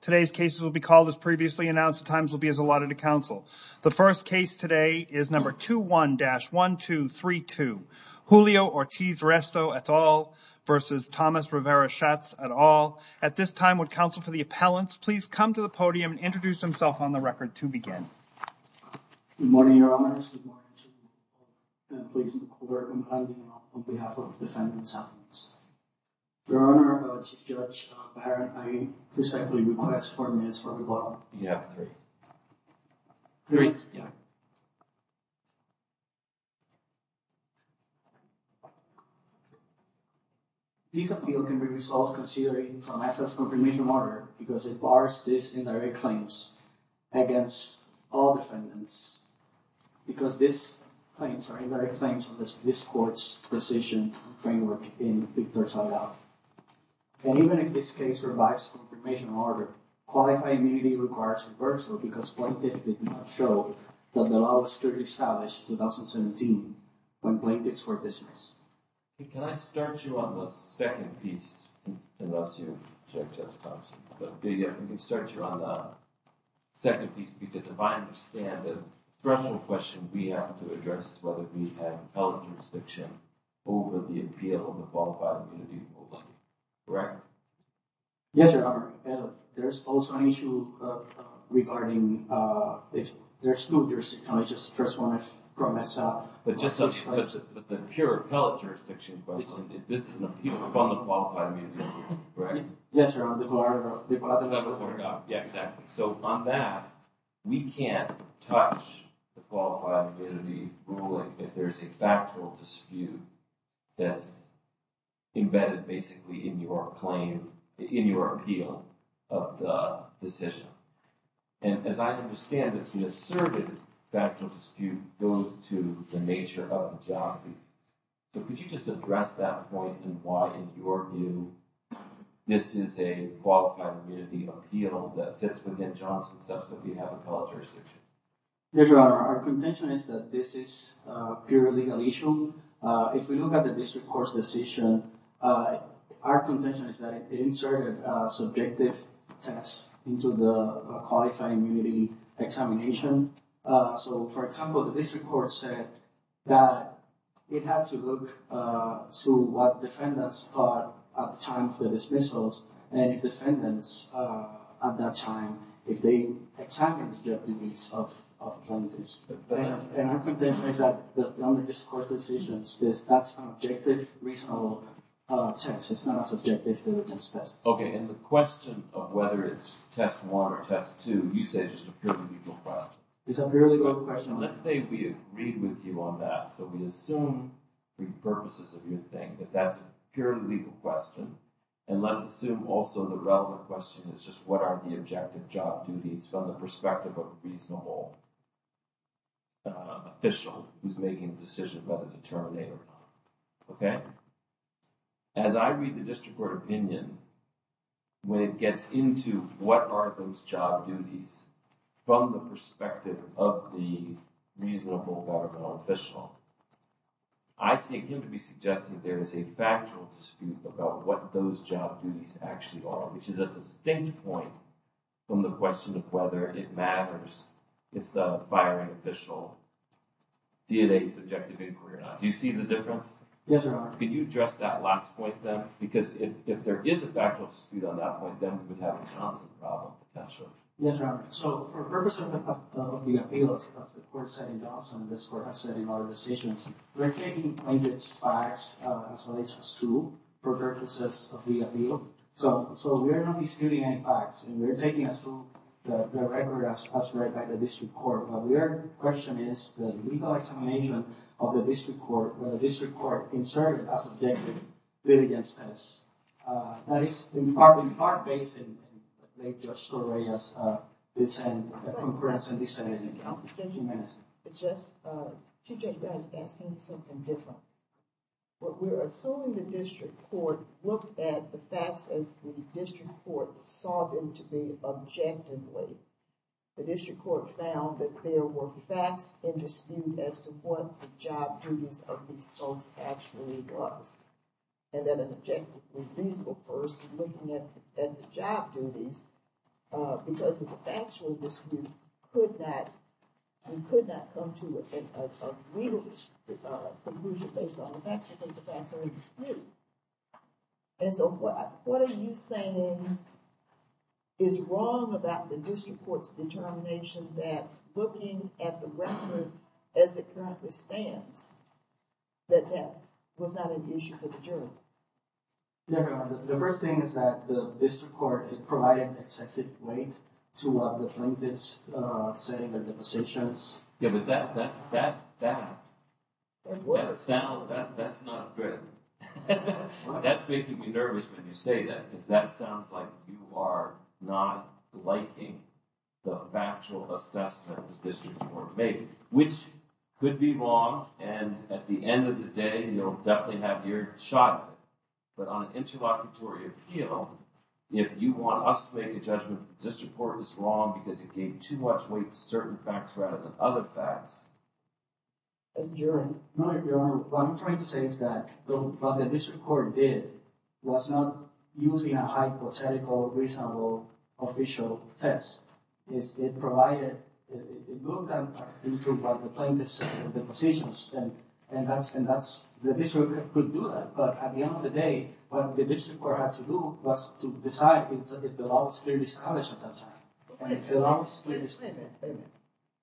Today's cases will be called as previously announced times will be as allotted to counsel The first case today is number 2 1 dash 1 2 3 2 Julio Ortiz-Resto et al Versus Thomas Rivera-Schatz et al at this time would counsel for the appellants Please come to the podium and introduce himself on the record to begin Requests for minutes from the bottom. You have three. Three. Yeah These appeal can be resolved considering a massive confirmation order because it bars this indirect claims against all defendants Because this claims are indirect claims of this court's decision framework in Victor's handout And even if this case revives the confirmation order Qualified immunity requires reversal because plaintiff did not show that the law was clearly established in 2017 When plaintiffs were dismissed Can I start you on the second piece? Unless you Start you on the Second piece because if I understand the criminal question we have to address is whether we have held Restriction over the appeal of the qualified immunity correct Yes, sir There's also an issue regarding There's two there's a conscious first one if promise up, but just as the pure pellet jurisdiction This is the people from the qualified immunity Right. Yes, sir. I'm the bar Yeah, exactly. So on that we can't touch the qualified Ruling if there's a factual dispute that's embedded basically in your claim in your appeal of the decision and as I understand it's the asserted factual dispute goes to the nature of So could you just address that point and why in your view? This is a qualified immunity appeal that fits within Johnson's up. So we have a culture There are our contention is that this is pure legal issue if we look at the district court's decision Our contention is that it inserted subjective tests into the qualifying unity examination So for example, the district court said that it had to look So what defendants thought at the time of the dismissals and if defendants at that time if they? attacked Okay, and the question of whether it's test one or test two you say just a purely legal It's a really good question. Let's say we agree with you on that. So we assume Purposes of your thing that that's purely legal question and let's assume also the relevant question It's just what are the objective job duties from the perspective of reasonable? Official who's making a decision whether to terminate or not? Okay, as I read the district court opinion when it gets into what are those job duties from the perspective of the reasonable governmental official I Think him to be suggesting there is a factual dispute about what those job duties actually are which is at the same point From the question of whether it matters if the firing official Did a subjective inquiry or not? Do you see the difference? Yes, sir Can you address that last point then because if there is a factual dispute on that point then we would have a constant problem That's true. Yes, sir. So for the purpose of the appeals On this court has said in our decisions We're taking these facts as alleged as true for purposes of the appeal So so we are not disputing any facts and we're taking us to the record as read by the district court But we are question is the legal examination of the district court where the district court inserted a subjective diligence test Now it's in part in part based in Make your story as they send a conference and he said It's just Asking something different But we're assuming the district court looked at the facts as the district court saw them to be objectively The district court found that there were facts in dispute as to what the job duties of these folks actually was And then an objective first looking at the job duties Because it's actually this group could not You could not come to it And so what what are you saying Is wrong about the district courts determination that looking at the record as it currently stands That that was not an issue for the jury The first thing is that the district court it provided excessive weight to other plaintiffs Saying that the decisions given that that that that What a sound that that's not good That's making me nervous when you say that because that sounds like you are not liking the factual Assessments districts were made which could be wrong and at the end of the day, you'll definitely have your shot but on an interlocutory appeal If you want us to make a judgment this report is wrong because it gave too much weight to certain facts rather than other facts During What I'm trying to say is that don't but the district court did was not using a hypothetical Reasonable official test is it provided Positions and and that's and that's the district could do that But at the end of the day what the district court had to do was to decide if the law was clearly established at that time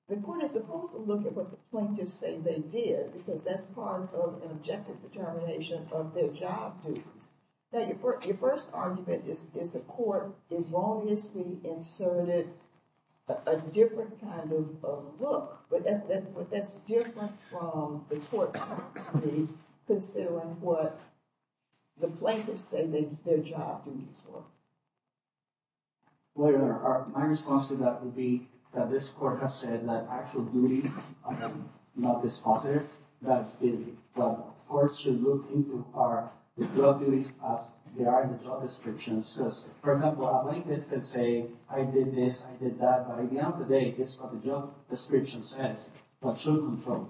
The court is supposed to look at what the plaintiffs say they did because that's part of an objective determination of their job Now your first argument is is the court is obviously inserted a different kind of look but that's that's different from the court Considering what the plaintiffs say that their job Where my response to that would be that this court has said that actually Not this father that Court should look into our duties as they are in the job description says Say I did this I did that by the end of the day. This is what the job description says What should come from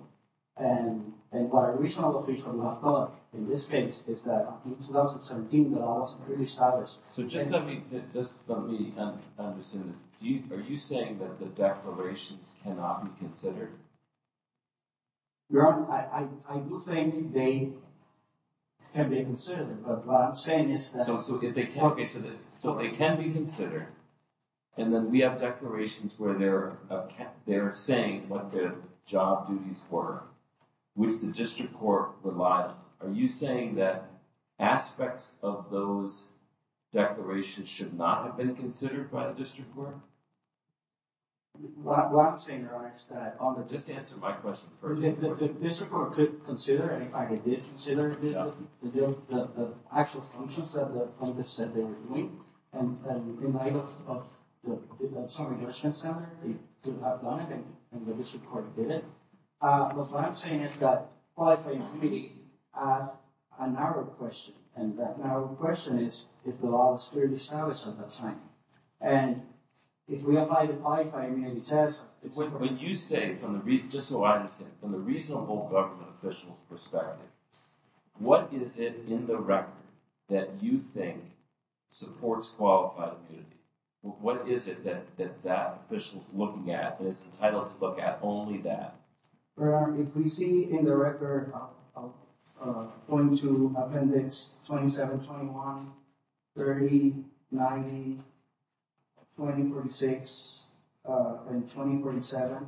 and and what a reasonable people have thought in this case? Is that in 2017 the law was clearly established so just let me just let me Are you saying that the declarations cannot be considered Your honor I do think they Can be considered but what I'm saying is that also if they can't get to this so it can be considered and Then we have declarations where they're They're saying what their job duties were Which the district court would lie. Are you saying that? aspects of those Declarations should not have been considered by the district court What I'm saying is that on the just answer my question for the district court could consider and if I did consider Actual functions of the plaintiff said they would meet and in light of Some adjustment salary And the district court did it but what I'm saying is that narrow question and that now the question is if the law was clearly established at that time and If we apply the qualifying immunity test when you say from the read just so I understand from the reasonable government officials perspective What is it in the record that you think? supports qualified immunity What is it that that that officials looking at and it's entitled to look at only that? If we see in the record Going to appendix 27 21 30 90 2046 and 2047.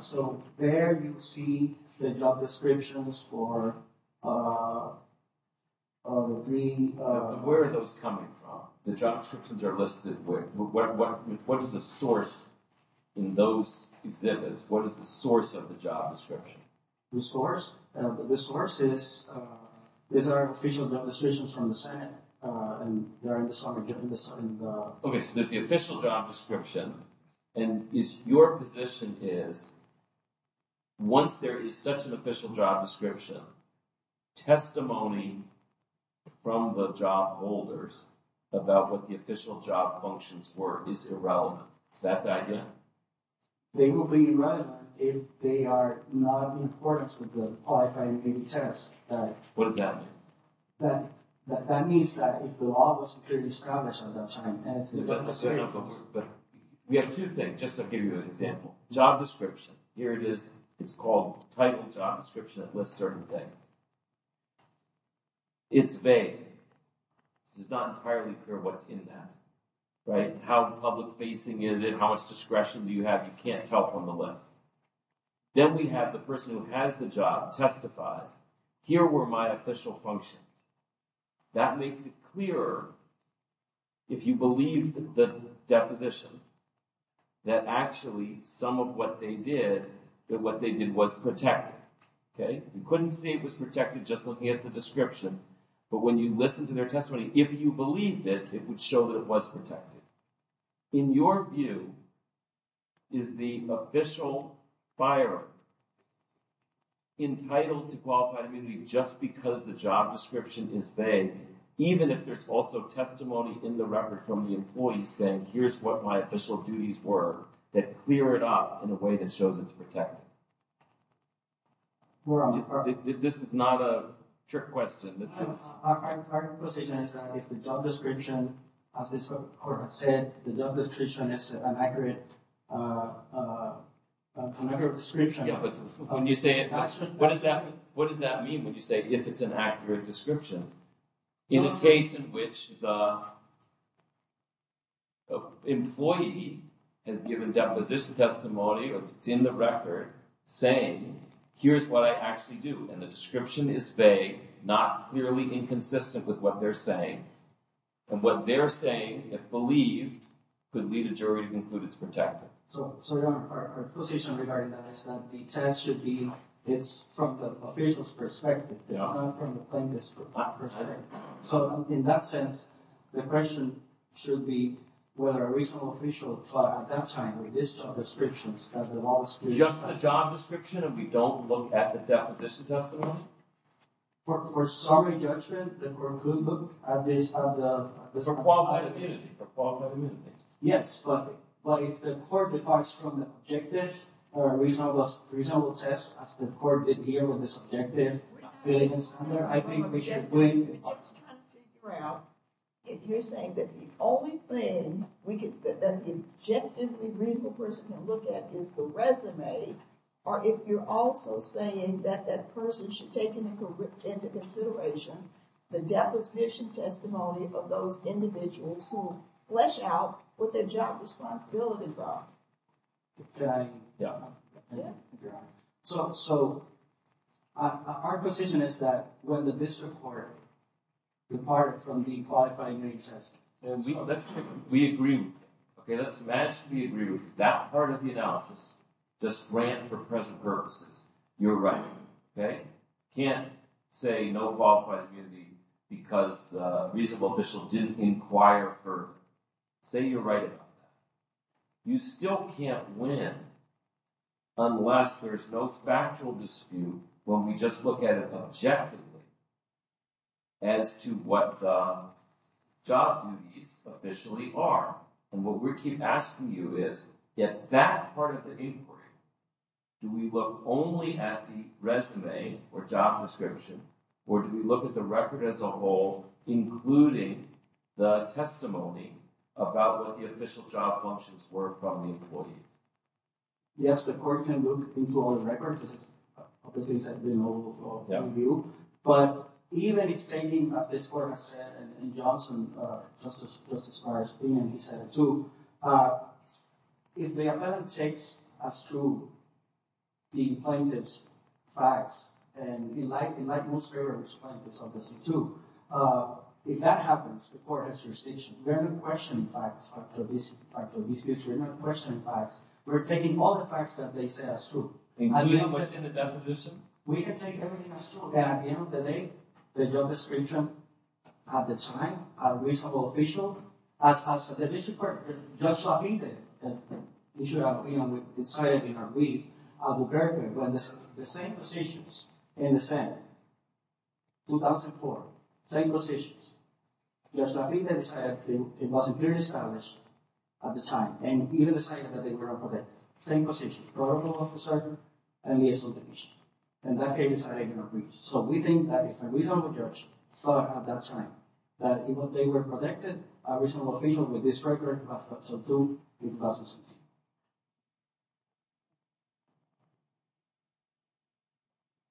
So there you see the job descriptions for Where are those coming from the job descriptions are listed with what is the source in those exhibits? What is the source of the job description? the source and the source is Is our official job decisions from the Senate and they're in the summer given this? Okay, so there's the official job description and is your position is Once there is such an official job description testimony From the job holders about what the official job functions were is irrelevant. Is that the idea? They will be relevant if they are not in accordance with the test But that means that if the law was clearly established We have to think just to give you an example job description here it is it's called title job description that lists certain thing It's vague It's not entirely clear what's in that right how the public facing is it how much discretion do you have you can't tell from the list Then we have the person who has the job testifies here were my official function That makes it clearer if you believe that the deposition That actually some of what they did that what they did was protect Okay, you couldn't see it was protected just looking at the description But when you listen to their testimony, if you believe that it would show that it was protected in your view Is the official fire? Entitled to qualified immunity just because the job description is vague Even if there's also testimony in the record from the employees saying here's what my official duties were That clear it up in a way that shows it's protected Well, this is not a trick question Description of this court has said the job description is an accurate Description when you say it, what is that? What does that mean? Would you say if it's an accurate description in a case in which the Employee has given deposition testimony or it's in the record saying Here's what I actually do and the description is vague. Not merely inconsistent with what they're saying And what they're saying if believed could lead a jury to conclude. It's protected So in that sense the question should be whether a reasonable official thought at that time with this job descriptions Just the job description and we don't look at the First sorry judgment Yes If you're saying that the only thing we could Objectively reasonable person to look at is the resume or if you're also saying that that person should take an into consideration The deposition testimony of those individuals who flesh out what their job responsibilities are So Our position is that when the district court Depart from the qualifying We agree Okay, let's imagine we agree with that part of the analysis just ran for present purposes. You're right Okay, can't say no qualified community because the reasonable official didn't inquire her Say you're right You still can't win Unless there's no factual dispute when we just look at it objectively as to what the Job duties officially are and what we keep asking you is get that part of the inquiry Do we look only at the resume or job description or do we look at the record as a whole? including the Testimony about what the official job functions were from the employee Yes, the court can look into all the records Things that we know But even if taking this course and Johnson just as far as being he said to If the appellant takes as true The plaintiffs facts and in like in like most errors point this obviously to If that happens the court has jurisdiction. There are no questioning facts after this Person facts, we're taking all the facts that they say as true We can take everything The job description at the time a reasonable official as the district court judge Lafitte You should have been on the inside in our brief. I will carry the same positions in the Senate 2004 same positions Yes, I think that is I have been it wasn't very stylish at the time and even the site that they were Same position protocol officer and the SL division and that case is a regular brief So we think that if a reasonable judge thought at that time that even they were protected a reasonable official with this record But to do it doesn't seem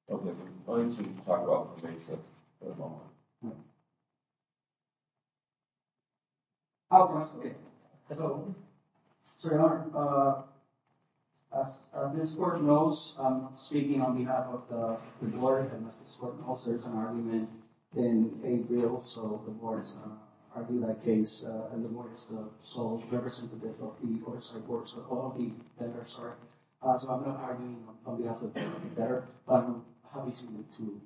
Okay Oh So This word knows speaking on behalf of the board and this is what also is an argument in a real So the board is arguing that case and the board is the sole representative of the court side works with all the vendors Are as I'm not arguing on behalf of the better how easy to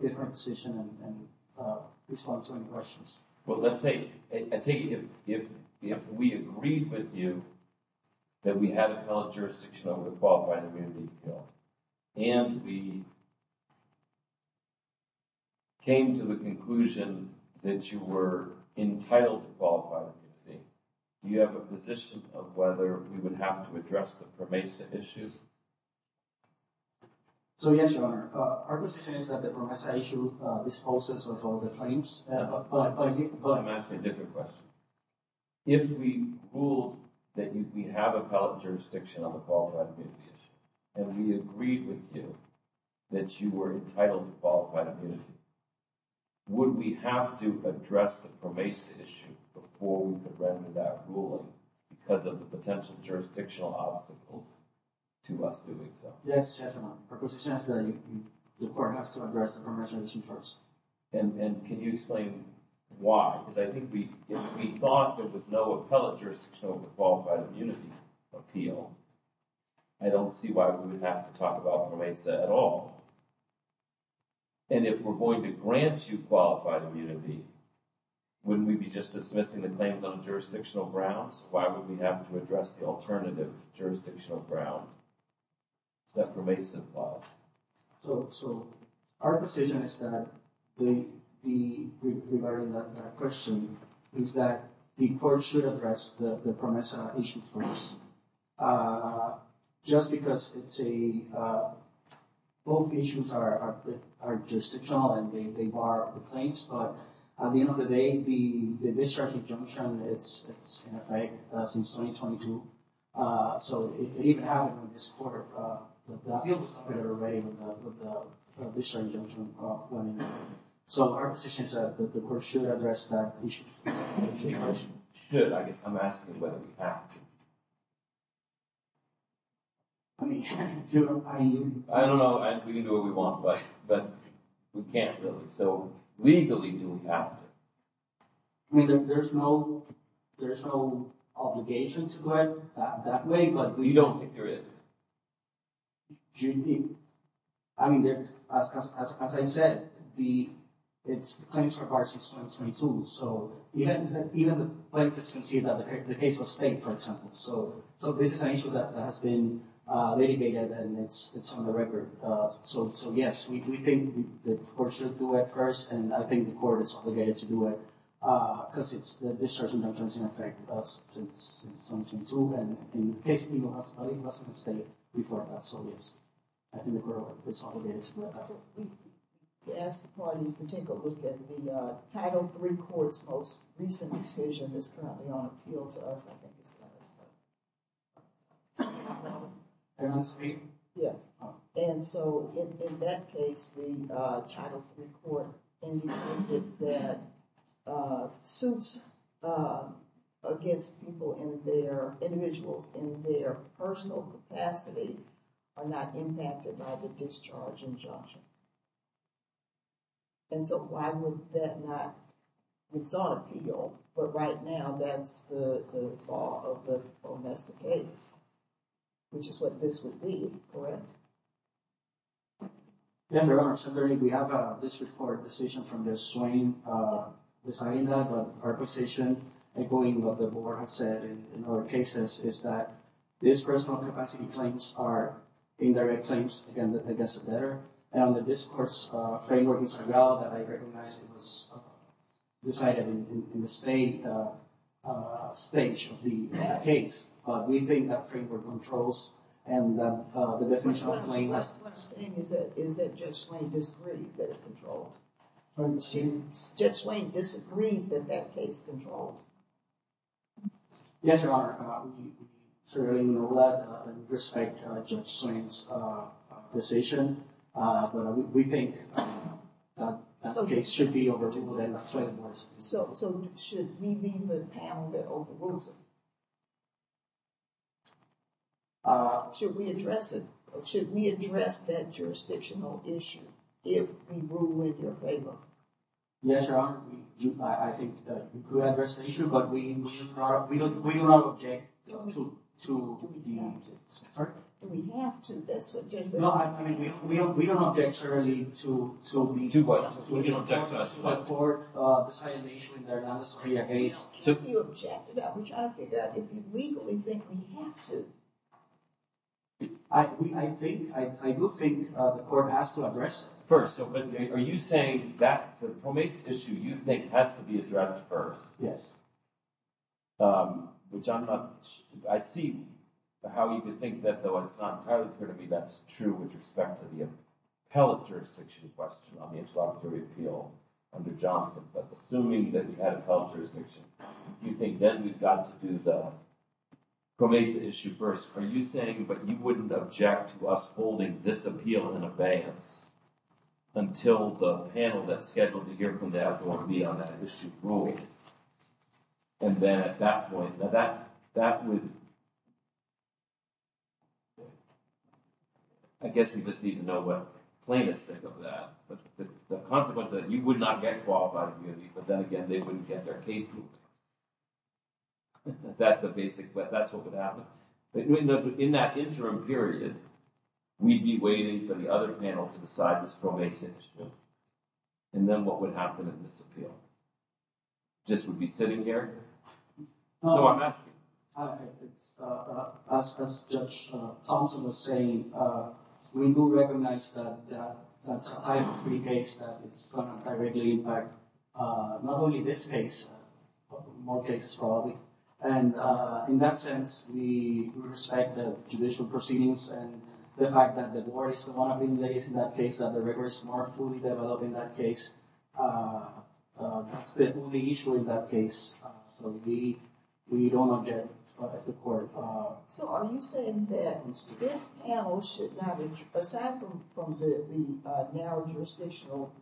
different decision and Response to any questions. Well, let's say I take it if we agreed with you that we had a fellow jurisdiction over the qualified immunity and we Came to the conclusion that you were Entitled to qualify. Okay, you have a position of whether we would have to address the pervasive issues So Yes, your honor our position is that the promissory issue disposes of all the claims If we ruled that you we have a fellow jurisdiction on the qualified And we agreed with you that you were entitled to qualified immunity Would we have to address the pervasive issue before we could render that ruling because of the potential jurisdictional obstacles? To us doing so. Yes The court has to address the permission issue first and and can you explain why because I think we Thought there was no appellate jurisdiction over the qualified immunity appeal I Don't see why we would have to talk about the way said at all And if we're going to grant you qualified immunity Wouldn't we be just dismissing the claims on jurisdictional grounds. Why would we have to address the alternative jurisdictional ground? That remains involved. So so our position is that the Question is that the court should address the permissive issues first Just because it's a both issues are Justifying they bar the claims, but at the end of the day the the discharge injunction, it's since so So our position is that the court should address that I Don't know what we want, but but we can't really so legally do we have Me that there's no there's no Obligation to go ahead that way, but we don't think there is Do you think I mean there's as I said, the it's 22 so The case of state for example, so so this is an issue that has been Litigated and it's it's on the record. So so yes, we think the court should do it first and I think the court is obligated to do it because it's The title three courts most recent decision is currently on appeal to us Yeah, and so in that case the title three court that suits Against people in their individuals in their personal capacity are not impacted by the discharge injunction And So why would that not? It's on appeal. But right now that's the Messy case which is what this would be Never are so dirty. We have this report decision from this swing Deciding that our position and going what the board has said in our cases is that this personal capacity claims are In their claims and that they guess it better and the discourse framework is well that I recognize it was Decided in the state Stage of the case. We think that framework controls and Judge Wayne disagreed that that case controlled Yes, your honor Certainly know that respect judge Swain's decision we think That's okay should be over to the end. So so should we be the panel that overrules it? Should we address it should we address that jurisdictional issue if we rule with your favor? Yes, your honor. I think We could address the issue, but we should not we don't we don't object to We have to this We don't we don't object surely to so we do what you don't get to us But for the silent nation in their Dallas Korea case, so you object to that which I think that if you legally think we have to I Think I do think the court has to address first Are you saying that the promised issue you think has to be addressed first? Yes Which I'm not I see How you could think that though? It's not entirely clear to me. That's true with respect to the Appellate jurisdiction question on the introductory appeal under Johnson, but assuming that we had a public jurisdiction you think then we've got to do the Promised issue first are you saying but you wouldn't object to us holding this appeal in a banks? until the panel that's scheduled to hear from that won't be on that issue rule and then at that point that that that would I Guess we just need to know what plaintiffs think of that, but the consequence that you would not get qualified But then again, they wouldn't get their case That's the basic, but that's what would happen in that interim period We'd be waiting for the other panel to decide this probation and then what would happen in this appeal Just would be sitting here Thompson was saying we do recognize that Three days Not only this case more cases probably and In that sense the Respect of judicial proceedings and the fact that the board is the one I mean ladies in that case that the records are fully developed in that case That's the only issue in that case so we we don't object So are you saying that this panel should not be aside from from the narrow? jurisdictional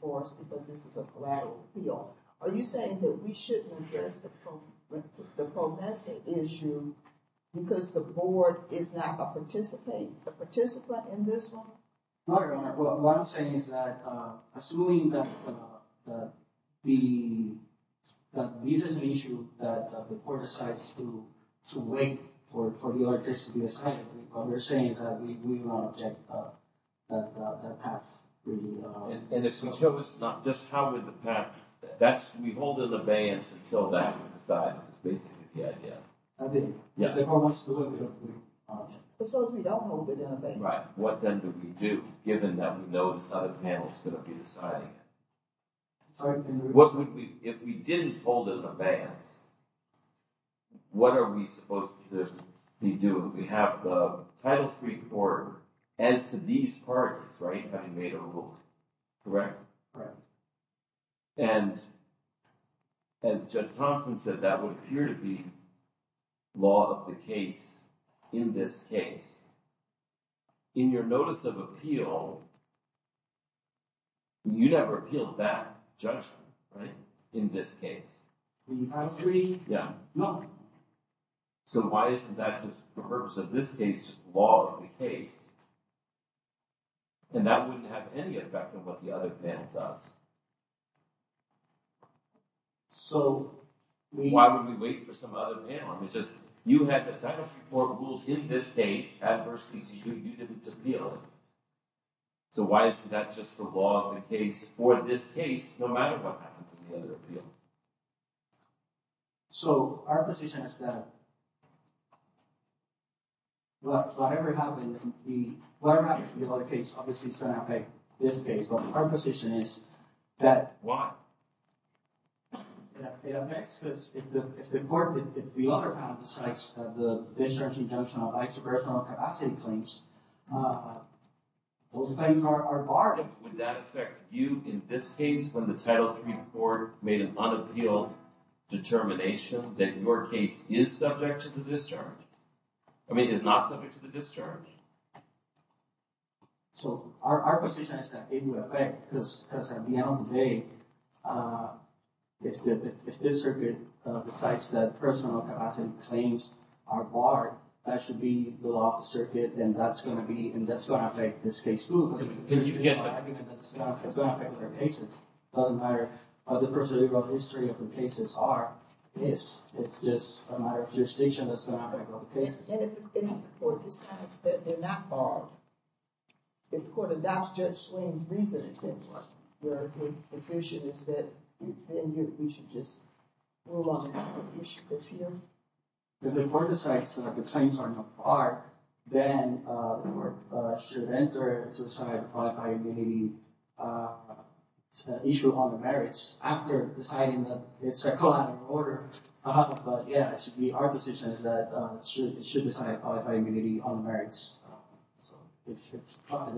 Force because this is a collateral we are are you saying that we shouldn't address the Progressive issue because the board is not a participate the participant in this Assuming The Reason issue that the court decides to to wait for the artist to be assigned What we're saying is that we want to check? that And it's not just how would the path that's we hold in the veins until that side What then do we do given that we notice how the panel is going to be deciding What would we if we didn't hold in the veins What are we supposed to do we have the title three quarter as to these parties right Correct right and And just confidence that that would appear to be Law of the case in this case in your notice of appeal You never appealed that judgment right in this case Yeah, no So why isn't that just the purpose of this case law of the case? And that wouldn't have any effect on what the other panel does So Why would we wait for some other panel? It's just you had the title report rules in this case adversity to you you didn't appeal So why is that just the law of the case for this case no matter what happens in the other appeal? So our position is that Whatever Happened the case obviously so now pay this case, but our position is that why? It's important if the other panel decides the discharge injunction of isoparietal capacity claims Both things are are barred would that affect you in this case when the title three report made an unappealed Determination that your case is subject to the discharge. I mean is not subject to the discharge So our Because at the end of the day If this circuit decides that personal capacity claims are barred that should be the law of the circuit And that's going to be and that's what I think this case move You can get Doesn't matter the first of the world history of the cases are yes, it's just a matter of your station If the court adopts judge swings reason The report decides that the claims are no part then Should enter Issue on the merits after deciding that it's a collateral order Yes, the our position is that it should decide by immunity on the merits We should not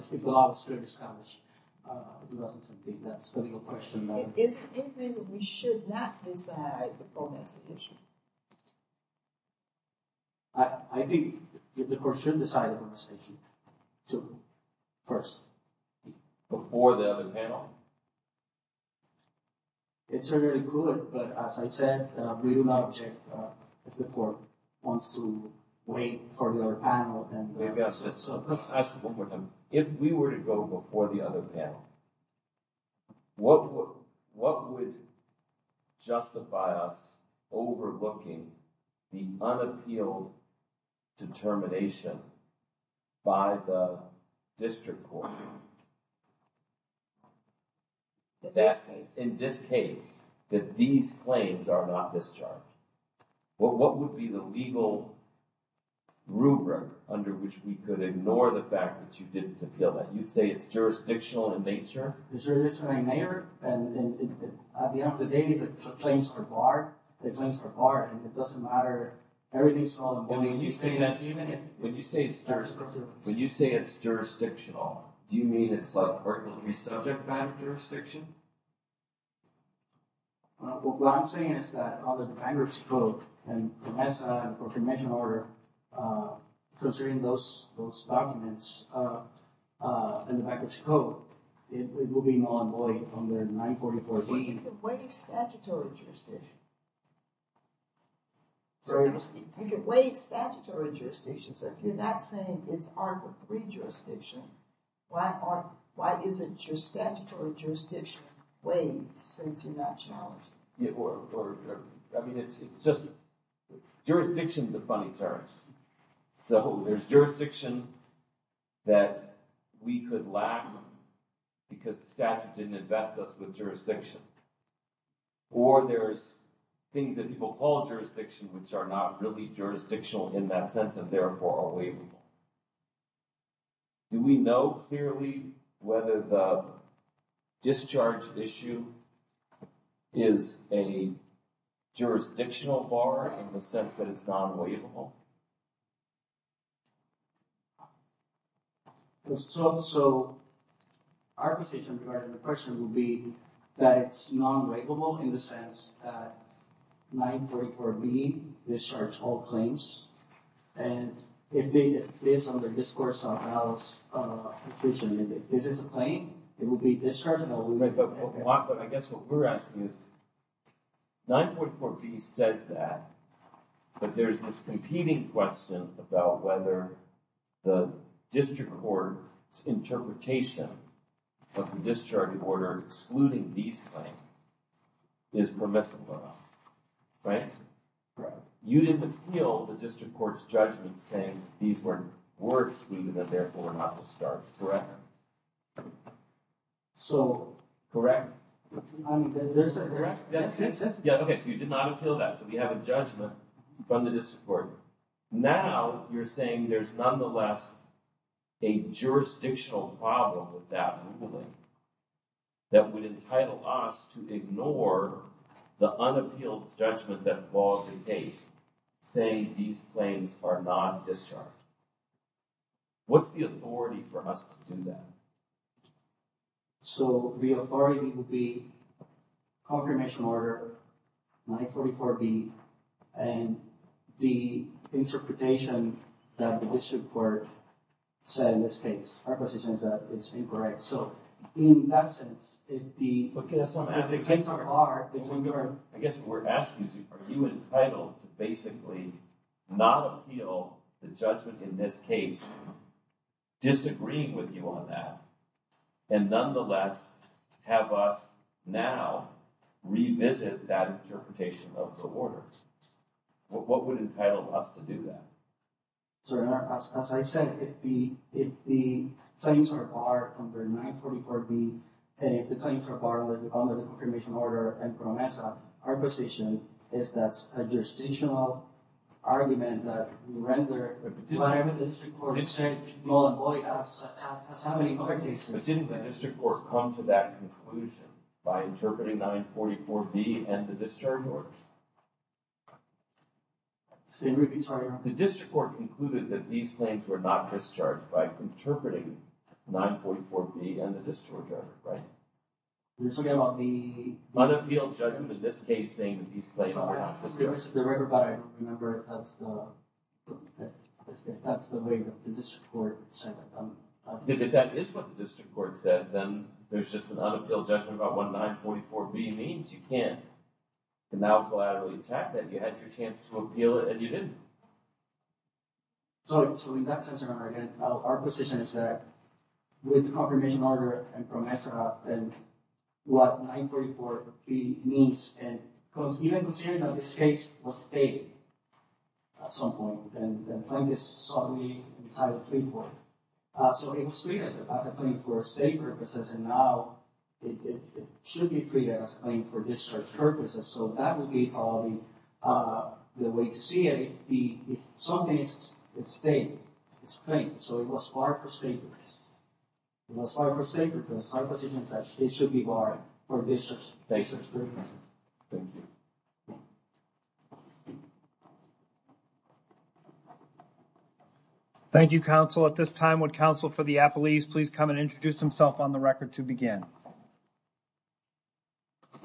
decide the phone execution I I Think the question decided on the station to first before the other panel It's really good, but as I said we do not object if the court wants to wait for your panel and If we were to go before the other panel What what would? justify us Overlooking the unappealed Determination by the district The best in this case that these claims are not discharged, but what would be the legal? Rubric under which we could ignore the fact that you didn't appeal that you'd say it's jurisdictional in nature Mayor and At the end of the day the claims are barred the claims are barred and it doesn't matter Everything's called when you say that even if when you say it starts, but you say it's jurisdictional Do you mean it's like or it will be subject matter jurisdiction? What I'm saying is that on the bankers quote and as a commission order considering those those documents In the back of scope it will be non-employee on their 944 waiting statutory jurisdiction Sorry to see you can wait statutory jurisdictions if you're not saying it's our pre-jurisdiction Why are why is it just statutory jurisdiction wait since you're not challenging it work or I mean it's it's just jurisdiction the funny terms So there's jurisdiction That we could laugh Because the statute didn't invest us with jurisdiction Or there's things that people call jurisdiction which are not really jurisdictional in that sense and therefore are we? Do we know clearly whether the discharge issue is a Jurisdictional bar in the sense that it's non-waiver home It was so so our position part of the question will be that it's non-regulable in the sense that nine for me discharge all claims and If they did this on the discourse of house Division if this is a plane it will be discharging. Oh wait, but I guess what we're asking is nine point four B says that But there's this competing question about whether the district court interpretation of the discharging order excluding these things is permissible right You didn't feel the district court's judgment saying these weren't were excluded that therefore not to start threaten So correct I mean Yeah, okay, so you did not appeal that so we have a judgment from the district court now, you're saying there's nonetheless a jurisdictional problem with that ruling That would entitle us to ignore The unappealed judgment that's called the case Saying these planes are not discharged What's the authority for us to do that? So the authority would be confirmation order 944 B and the interpretation that the district court Said in this case our position is that it's incorrect. So in that sense if the Are they when you're I guess we're asking are you entitled to basically not appeal the judgment in this case? Disagreeing with you on that and nonetheless have us now Revisit that interpretation of the order What would entitle us to do that? so as I said if the if the claims are bar number 944 B and if the claims are borrowed under the confirmation order and Our position is that's a jurisdictional argument that render Do I have a district court to say, well, boy, that's how many other cases But didn't the district court come to that conclusion by interpreting 944 B and the discharge order? The district court concluded that these planes were not discharged by interpreting 944 B and the discharge order, right? We're talking about the unappealed judgment in this case saying that these planes were not discharged If that's the way the district court said If that is what the district court said then there's just an unappealed judgment about what 944 B means you can And now collaterally attack that you had your chance to appeal it and you didn't So in that sense our position is that with the confirmation order and from ESSA and What 944 B means and because even considering that this case was stated At some point and then plaintiffs suddenly So it was treated as a claim for state purposes and now It should be treated as a claim for discharge purposes. So that would be probably The way to see it if the if something is a state it's claimed so it was barred for state purposes It was barred for state purposes. Our position is that it should be barred for discharge purposes Thank You counsel at this time would counsel for the a police, please come and introduce himself on the record to begin And The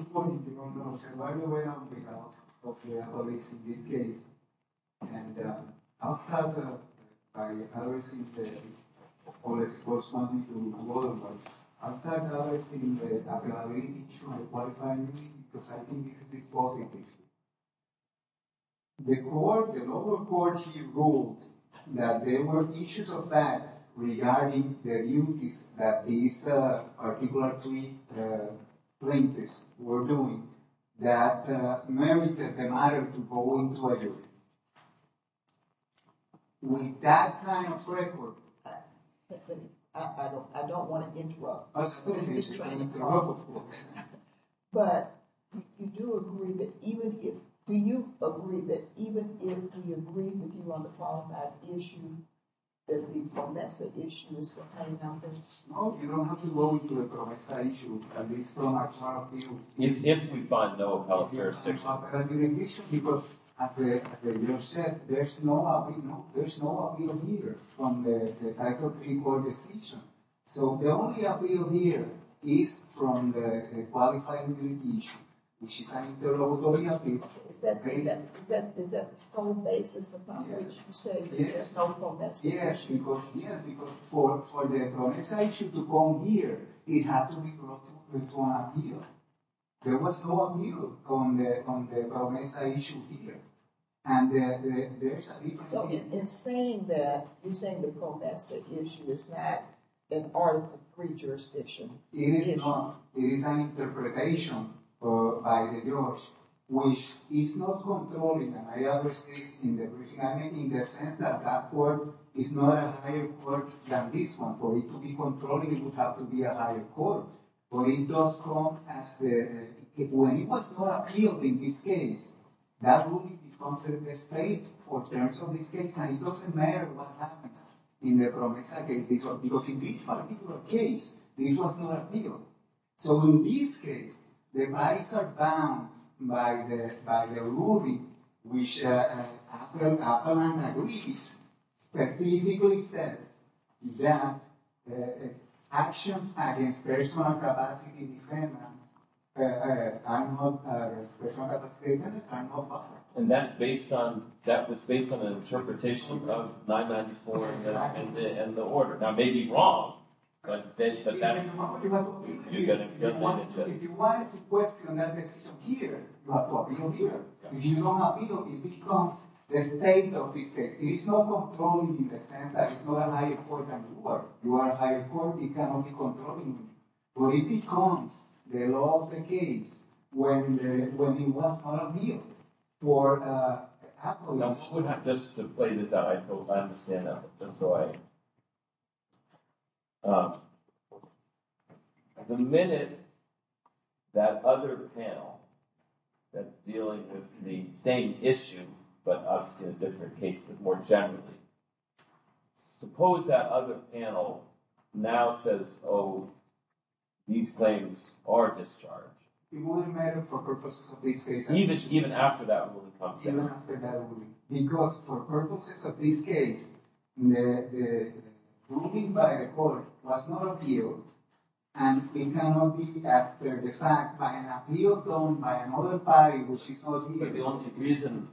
court the local court he ruled that there were issues of that regarding the duties that these Articulately Plaintiffs were doing that merited the matter to go into a jury With that kind of record But You In if we find no first people Said there's no One Decision so the only appeal here is from the Issue to come here There was no On the Issue is that an article pre-jurisdiction Interpretation Which is not controlling Work is not a higher court than this one for it to be controlling it would have to be a higher court But it does come as the way it was not appeal in this case That would be the state for terms of this case and it doesn't matter what happens in the promise I guess they saw because in this particular case this was not a deal So in this case the rights are bound by the by the ruling we share Greece specifically says that Actions And that's based on that was based on an interpretation of 994 and the order now maybe wrong I Becomes the law of the case when when he was on a meal for Happily, I'm just to play this out. I don't understand that. That's right The minute that other panel That's dealing with the same issue, but obviously a different case, but more generally Suppose that other panel now says, oh These claims are discharged Even even after that Because for purposes of this case Moving by the court was not appeal and It cannot be after the fact by an appeal done by another by which is not the only reason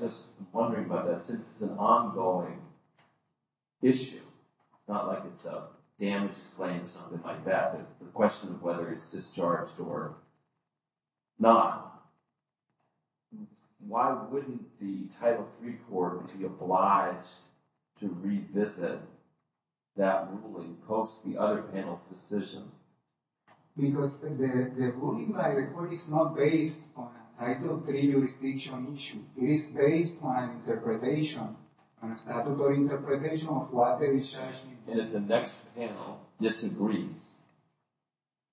Just wondering about that since it's an ongoing Issue not like it's a damage claim something like that the question of whether it's discharged or not Why wouldn't the title three court be obliged to revisit That ruling post the other panel's decision Because It's not based on I don't believe your speech on issue is based on interpretation And it's not about interpretation of what the discharge and if the next panel disagrees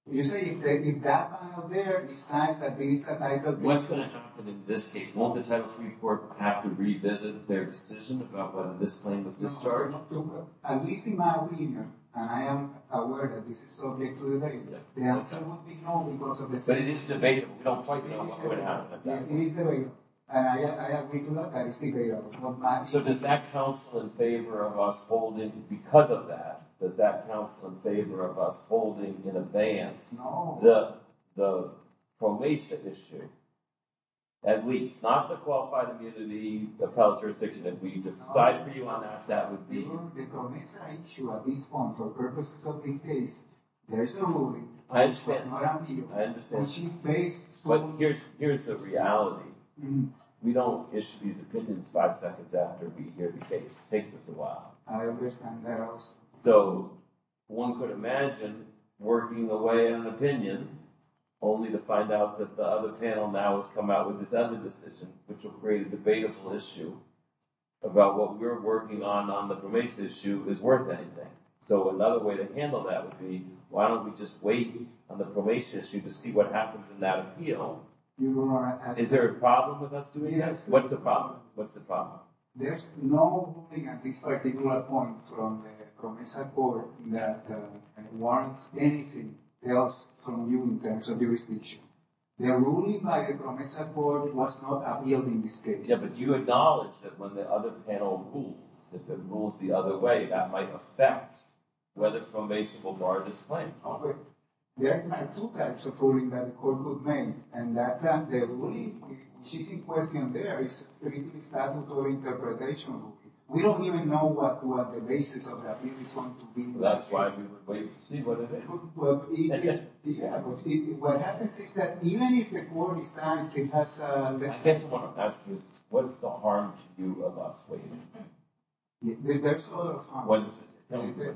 You say they did that there besides that they said I thought what's going to happen in this case? Won't the title report have to revisit their decision about whether this claim of discharge? To at least in my opinion, and I am aware that this is subject to the But it is debatable So does that counsel in favor of us holding because of that does that counsel in favor of us holding in advance the Promotion issue At least not the qualified immunity the power jurisdiction that we decide for you on that that would be There's a movie But here's here's the reality We don't issue these opinions five seconds after we hear the case takes us a while so one could imagine working away an opinion Only to find out that the other panel now has come out with this other decision, which will create a debatable issue About what we're working on on the formation issue is worth anything So another way to handle that would be why don't we just wait on the probation issue to see what happens in that appeal? Is there a problem with us doing this? What's the problem? What's the problem? There's no At this particular point from the Promisor board that Wants anything else from you in terms of jurisdiction their ruling by the promisor board was not appealed in this case Yeah, but you acknowledge that when the other panel rules that the rules the other way that might affect Whether from a civil bar disclaim There are two types of ruling that the court would make and that's on the ruling She's in question there is strictly Interpretation we don't even know what the basis of that is going to be. That's why we were waiting to see what it is Yeah, what happens is that even if the court decides it has the next one asked is what is the harm to you of us waiting?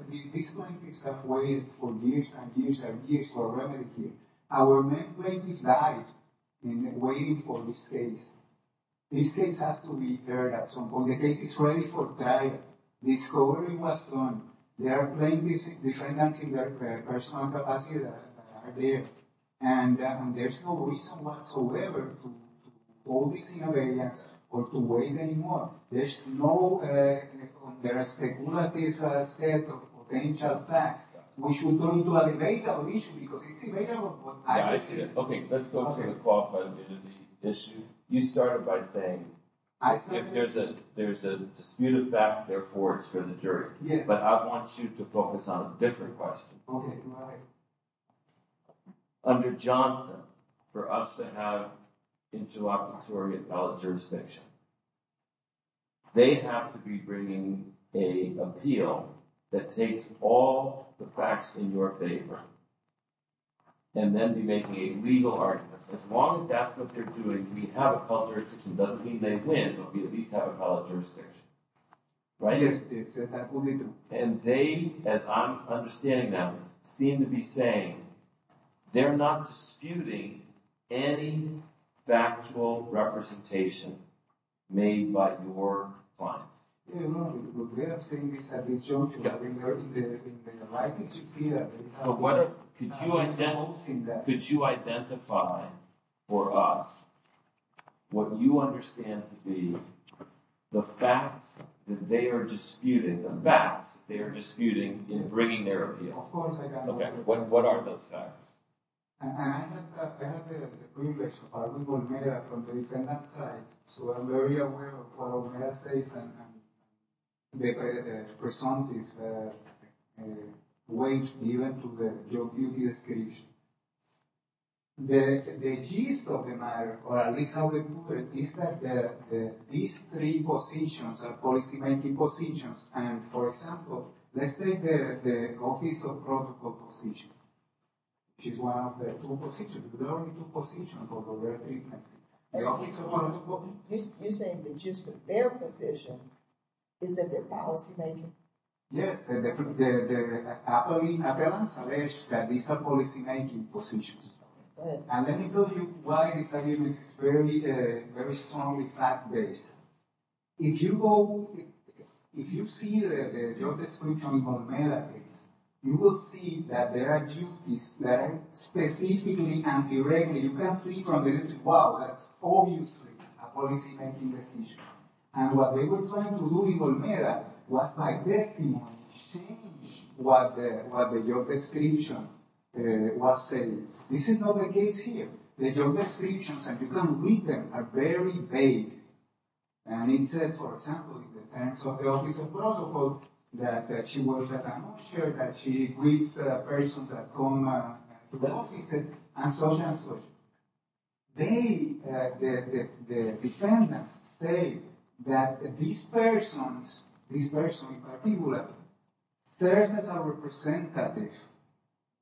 These plaintiffs have waited for years and years and years for remedy our main plaintiff died in waiting for this case This case has to be heard at some point the case is ready for trial Discovery was done. There are plaintiffs the financing their personal capacity there and There's no reason whatsoever All these innovations or to wait anymore. There's no There are speculative set of potential facts. We should go into a debate I Okay You started by saying I think there's a there's a disputed back there for it's for the jury Yeah, but I want you to focus on a different question Under Jonathan for us to have interoperatorial jurisdiction They have to be bringing a appeal that takes all the facts in your favor And then be making a legal argument as long as that's what they're doing. We have a culture system doesn't mean they win Don't be at least have a color jurisdiction Right. Yes, and they as I'm understanding them seem to be saying They're not disputing any Factual representation made by your I Could you identify for us What you understand to be? The fact that they are disputed the facts they are disputing in bringing their appeal. Okay. What are those facts? They were the presumptive Weight even to the description The the gist of the matter or at least how they put it is that These three positions are policy-making positions. And for example, let's take the office of protocol position She's one of the two positions To position You say the gist of their position is that their policy-making yes That these are policy-making positions and let me tell you why this is very very strongly fact-based if you go if you see You will see that there are duties that are specifically and directly you can see from the Obviously And what they were trying to do even better was my best What the job description Was saying this is not the case here. The job descriptions and you can read them are very vague And it says for example And so the office of protocol that that she was That she reads persons that come to the offices and so on and so forth they Defendants say that these persons these persons in particular persons are representative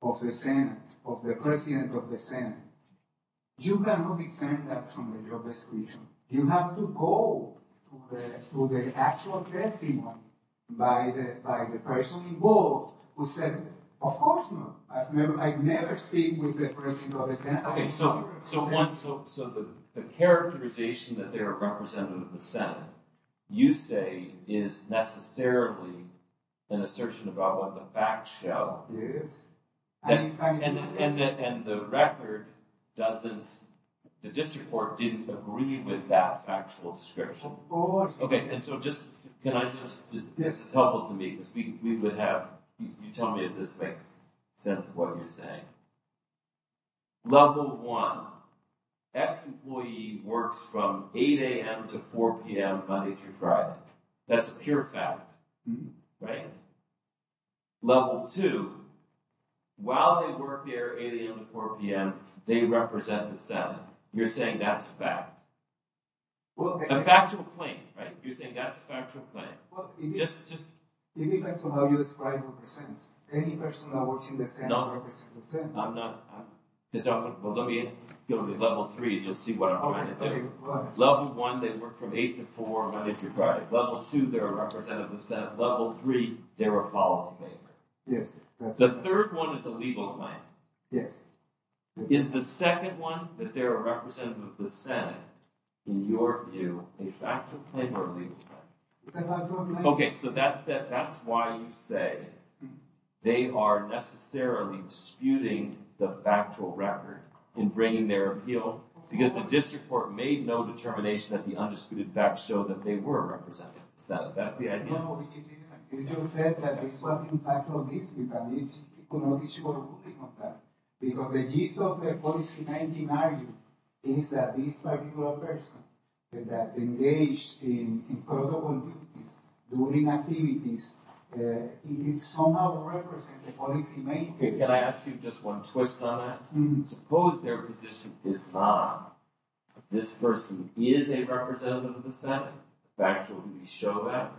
of the Senate of the president of the Senate You cannot discern that from the job description. You have to go Through the actual testing By the by the person involved who said of course no I remember I never speak with the president of the Senate Okay, so the characterization that they are representative of the Senate you say is Necessarily an assertion about what the fact show. Yes And the record doesn't The district court didn't agree with that factual description Oh, okay, and so just can I just this is helpful to me because we would have you tell me if this makes sense of what you're saying Level one X employee works from 8 a.m. To 4 p.m. Monday through Friday. That's a pure fact right level 2 While they work here 8 a.m. To 4 p.m. They represent the Senate you're saying that's back Well a factual claim, right? You're saying that's factual claim. Well, it just just it depends on how you describe Any person that works in the Senate? I'm not It's open. Well, let me go to the level threes. You'll see what? Level one they work from 8 to 4 Monday through Friday level 2. They're a representative of Senate level 3 They're a policymaker. Yes, the third one is a legal claim. Yes Is the second one that they're a representative of the Senate in your view a factual claim or a legal claim? Okay, so that's that that's why you say They are Necessarily disputing the factual record in bringing their appeal because the district court made no determination that the undisputed facts Show that they were represented That is what in fact of this because it's Because the gist of the policymaking argument is that this particular person that engaged in During activities It's somehow Can I ask you just one twist on that? Suppose their position is not This person is a representative of the Senate back to show that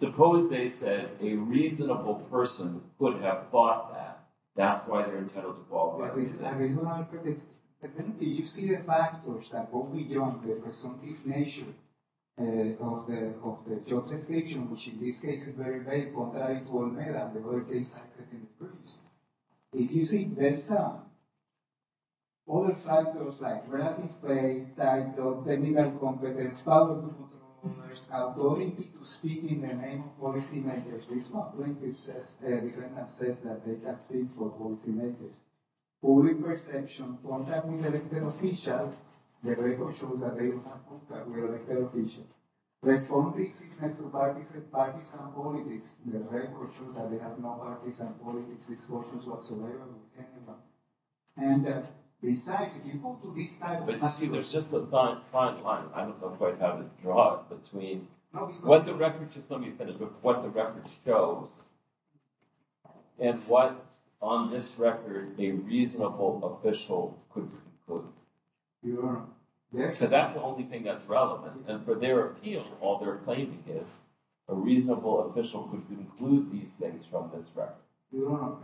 Suppose they said a reasonable person would have bought that that's why they're entitled to If you see this All the factors like relative pay that the legal competence I'm going to speak in the name policy makers Says that they have signed for holes in a Only perception one that we live in official the very school that they Understood Responding And Besides if you go to this time, but you see there's just a time fine line I don't know quite how to draw it between what the record just let me finish with what the record shows and What on this record a reasonable official could? include So that's the only thing that's relevant and for their appeal all they're claiming is a reasonable official could include these things from this General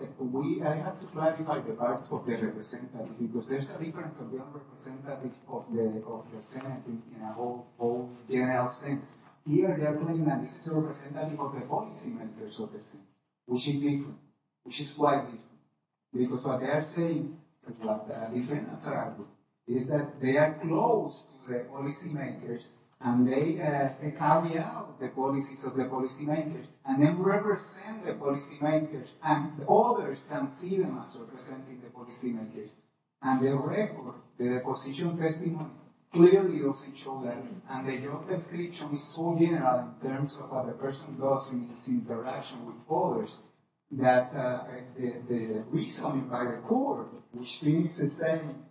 sense Will she be she's quite because what they're saying Is that they are closed policymakers and they carry out the policies of the policy makers and then represent the policy makers and Others can see them as representing the policy makers and the record the position testing Clearly doesn't show that and they don't description is so general in terms of what the person does in his interaction with others that Reason by the court, which means the same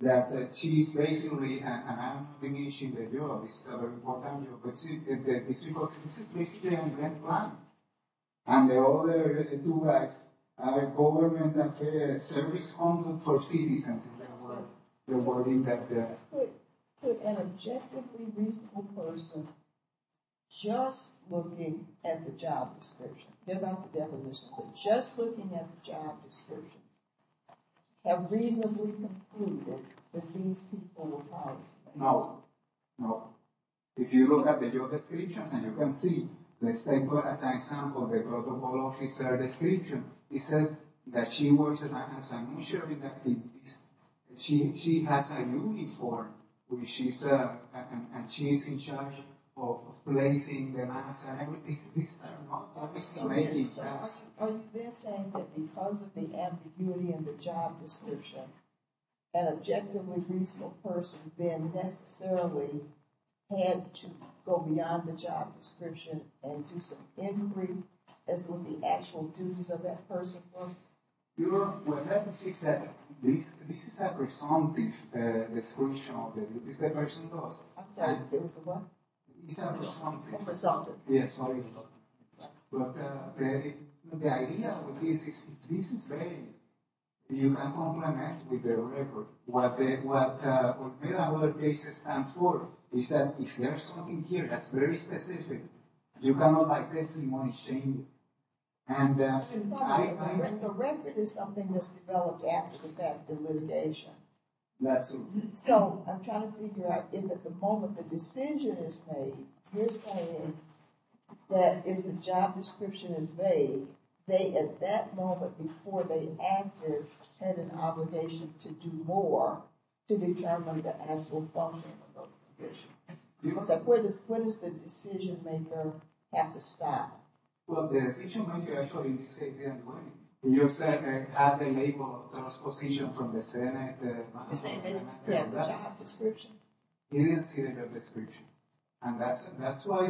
that that she's basically And the other Service for citizens A Objectively reasonable person Just looking at the job description about the definition just looking at the job descriptions Have reasonably concluded that these people know No, if you look at the job descriptions and you can see let's take one as an example the protocol officer description It says that she was She she has a uniform when she said and she's in charge of placing Because of the ambiguity in the job description an objectively reasonable person then necessarily Had to go beyond the job description and As well the actual duties of that person This is a presumptive description of the person You Very good What This is time for is that if there's something here, that's very specific you cannot like this in one shame and The record is something that's developed after the fact the litigation That's so I'm trying to figure out if at the moment the decision is made That is the job description is made they at that moment before they Obligation to do more to determine the actual What is what is the decision-maker have to stop You said the label position from the Senate Didn't see the description and that's that's why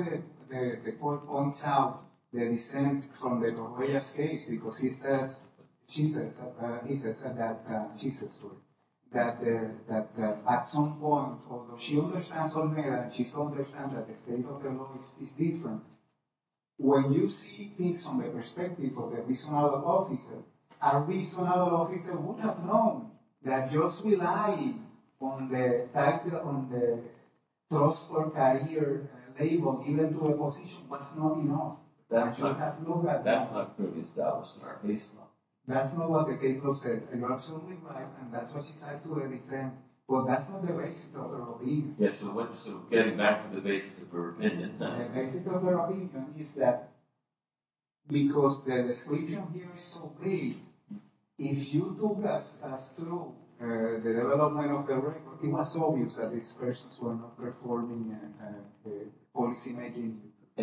the points out the dissent from the various case because he says she says he says that she says That that at some point she understands on there. She's understand that the state of the law is different When you see things from the perspective of the reason out of officer Our reason That just rely on the Trust or carrier able even to a position what's not you know? That's not what the caseload said Well, that's not the way Because If you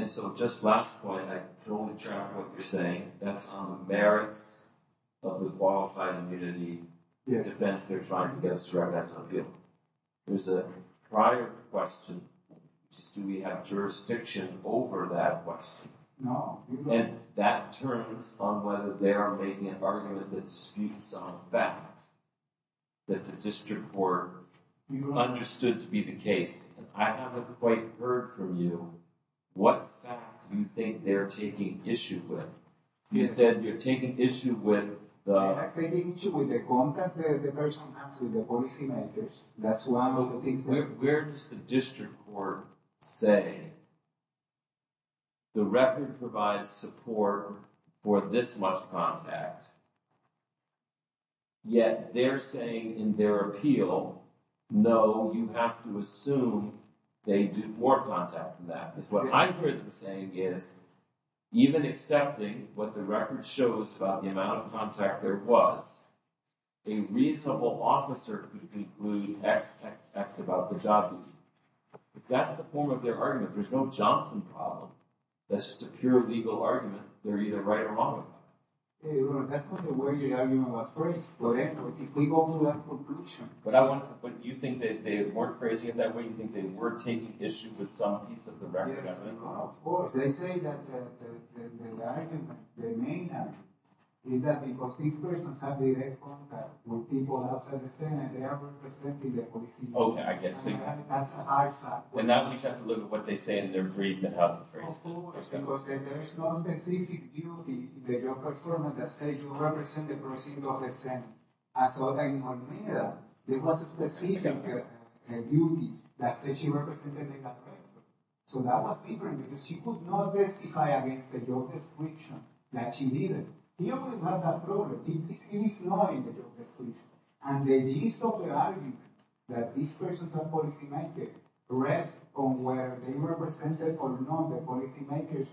So just last point You're saying that's on the merits of the qualified immunity Yes, they're trying to get us to our best appeal. There's a prior question Do we have jurisdiction over that question? No, and that turns on whether they are making an argument that speaks of that that the district were Understood to be the case. I haven't quite heard from you What do you think they're taking issue with you said you're taking issue with? Activation with the contact the person has with the policy makers. That's one of the things that where does the district court say? The record provides support for this much contact Yet they're saying in their appeal No, you have to assume they do more contact than that. That's what I'm saying is even accepting what the record shows about the amount of contact there was a reasonable officer Includes X X X about the job Got the form of their argument. There's no Johnson problem. That's just a pure legal argument. They're either right or wrong But I want to put you think that they weren't phrasing it that way you think they were taking issue with some Okay, I guess When that we have to look at what they say in their briefs and how Because it's the same So that was different because she could not testify against the job description that she didn't Have that problem And then you saw the argument that these persons are policymaker rest from where they were presented or not the policy makers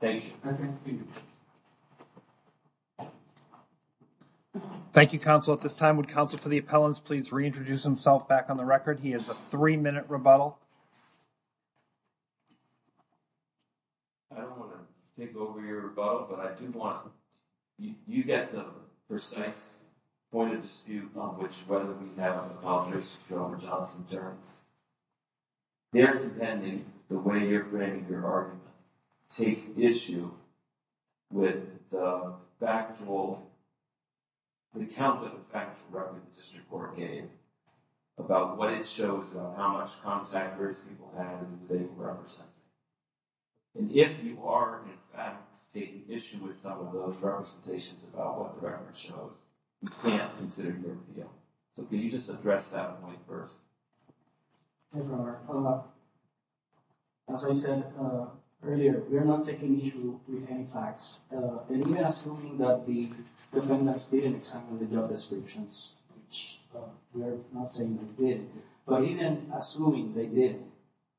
Thank you Thank You counsel at this time would counsel for the appellants, please reintroduce himself back on the record he has a three-minute rebuttal I Don't want to think over your rebuttal, but I do want you you get the precise Point of dispute on which whether we have officers from Johnson turns They're depending the way you're bringing your argument take issue with factual the count of District or game about what it shows how much contractors people have And if you are Taking issue with some of those representations about what the record shows you can't consider your appeal So can you just address that point first? As I said earlier, we're not taking issue with any facts and even assuming that the Defendants didn't examine the job descriptions But even assuming they did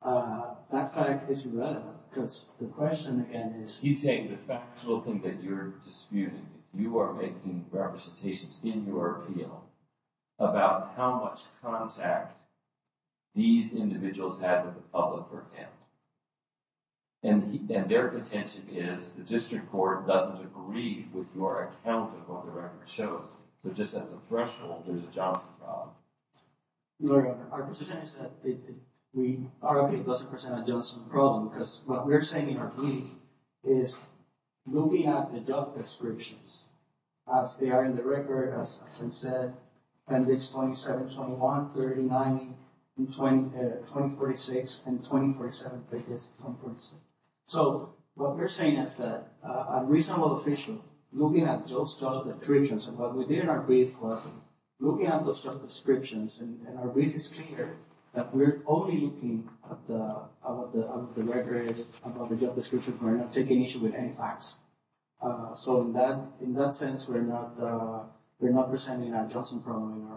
That fact is relevant because the question again is he's saying the factual thing that you're disputing you are making representations in your appeal about how much contact these individuals have with the public for example, and And their attention is the district court doesn't agree with your account of what the record shows So just at the threshold, there's a job We Problem because what we're saying in our plea is Will be at the job descriptions as they are in the record as I said, and it's 27 21 30 90 20 20 46 and 20 47 So what we're saying is that a reasonable official looking at those job descriptions and what we did in our brief was looking at those job descriptions and our brief is clear that we're only looking at the Records about the job description for not taking issue with any facts So in that in that sense, we're not We're not presenting an adjustment problem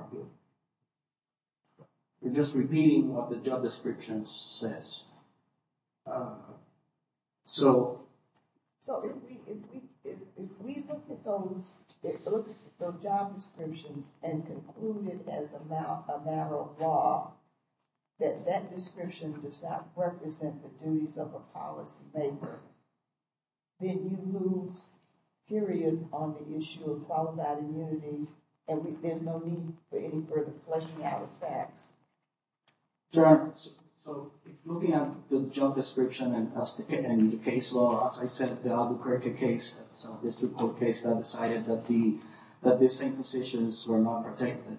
We're just repeating what the job description says So That that description does not represent the duties of a policy maker then you lose Period on the issue of qualified immunity and there's no need for any further flushing out of tax There are so looking at the job description and as the case law as I said the other cricket case So this report case that decided that the that the same positions were not protected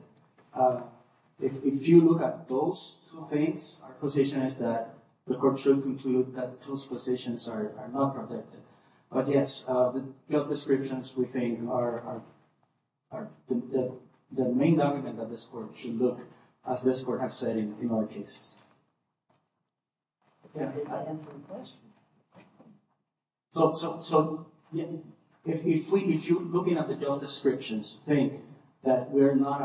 If you look at those things our position is that the court should conclude that those positions are not protected but yes, the job descriptions we think are The main document that this court should look as this court has said in our cases So so so if we if you looking at the job descriptions think that we're not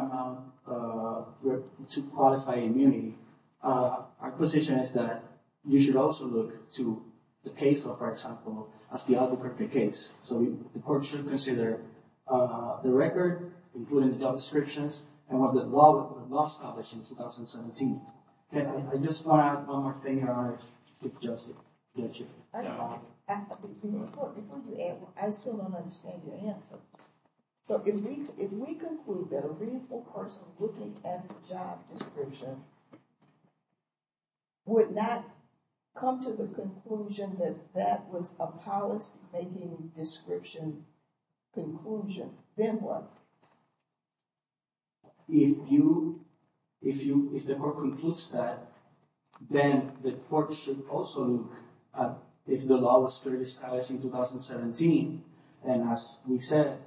To qualify immunity Our position is that you should also look to the case law for example, that's the other cricket case So the court should consider The record including the job descriptions and what the law was published in 2017. Okay, I just want one more thing So if we if we conclude that a reasonable person looking at the job description Would not come to the conclusion that that was a policy making description conclusion then what If you if you if the court concludes that Then the court should also look at if the law was fairly stylish in 2017 And as we said,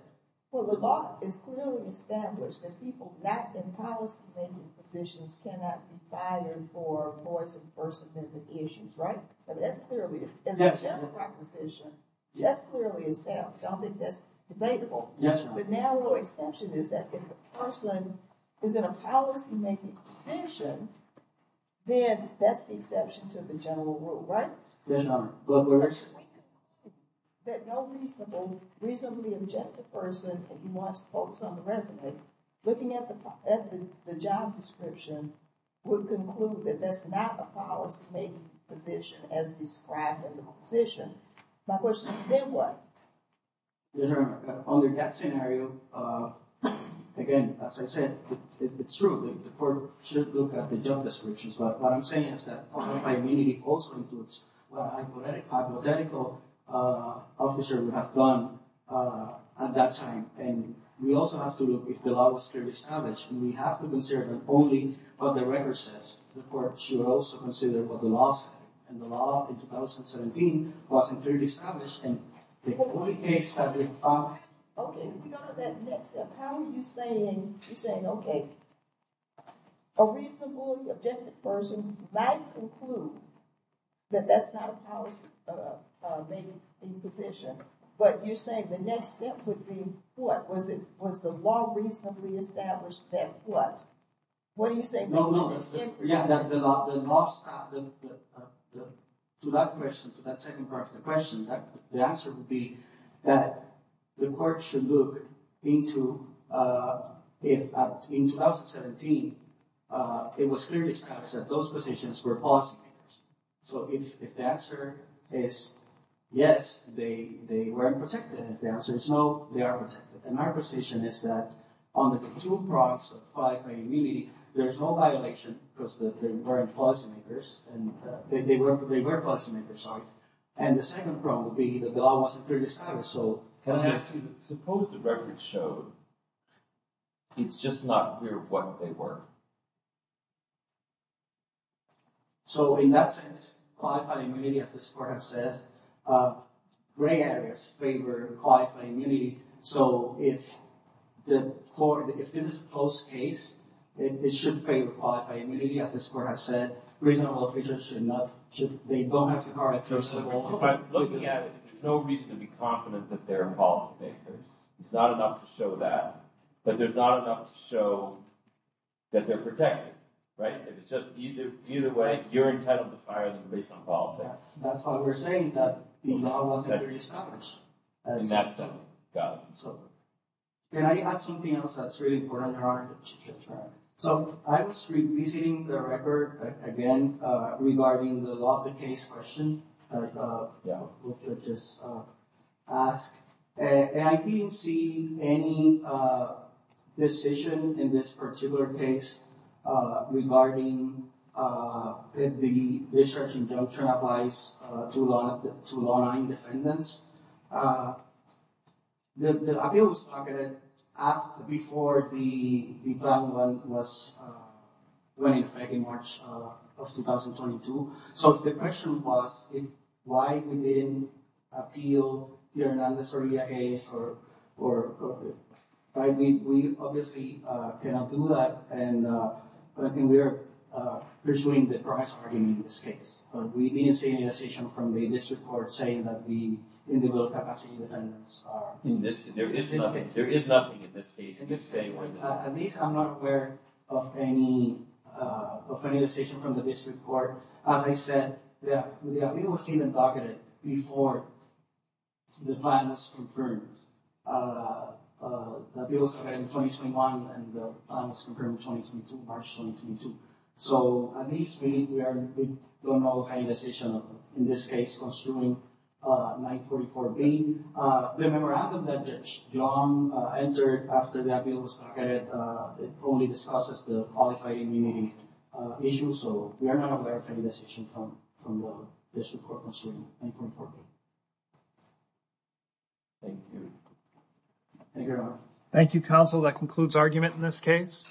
well, the law is clearly established that people that in policy making positions cannot be hired for Issues, right? That's clearly established I don't think that's debatable. Yes, but now the exception is that the person is in a policy-making position Then that's the exception to the general rule, right? There are no Reasonably objective person and he wants to focus on the resume looking at the job description Would conclude that that's not a policy-making position as described in the position. My question is then what? Under that scenario Again, as I said, it's true. The court should look at the job descriptions. But what I'm saying is that community also includes hypothetical Officer would have done At that time and we also have to look if the law was clearly established We have to consider only what the record says the court should also consider what the law said and the law in 2017 wasn't really established Saying okay a reasonably objective person might conclude that that's not a policy Maybe in position, but you say the next step would be what was it was the law reasonably established that what? What do you say? No, no To that person to that second part of the question that the answer would be that the court should look into if in 2017 It was clearly established that those positions were positive. So if the answer is Yes, they they weren't protected if the answer is no they are protected and our position is that on the two products of five? I really there's no violation because the current policy makers and they were they were classmate They're sorry, and the second problem would be that the law wasn't really established. So can I ask you suppose the record showed? It's just not clear of what they were So in that sense this process gray areas favor quite a mini so if The court if this is close case It should favor qualify immediately as the score has said reasonable officials should not should they don't have to call it first of all There's no reason to be confident that there are policy makers it's not enough to show that but there's not enough to show That they're protected right? It's just either either way. You're entitled to fire them based on politics. That's why we're saying that Can I add something else that's really important So I was revisiting the record again regarding the law the case question Just ask and I didn't see any Decision in this particular case regarding If the research injunction applies to a lot of the two long line defendants The appeals targeted after before the problem was when in fact in March of 2022 so if the question was if why we didn't appeal you're not necessarily a case or or I mean, we obviously cannot do that. And I think we're pursuing the price for him in this case, but we didn't see any decision from the district court saying that the Individual capacity defendants are in this there is nothing there is nothing in this case. It's a where of any Decision from the district court as I said, yeah, it was even targeted before The plan was confirmed It was in 2021 and the plan was confirmed in March 2022 So at least we don't know the final decision in this case concerning 944B Remember I have a message. John entered after the appeal was targeted It only discusses the qualified immunity issue, so we are not aware of any decision from the district court concerning 944B. Thank you counsel that concludes argument in this case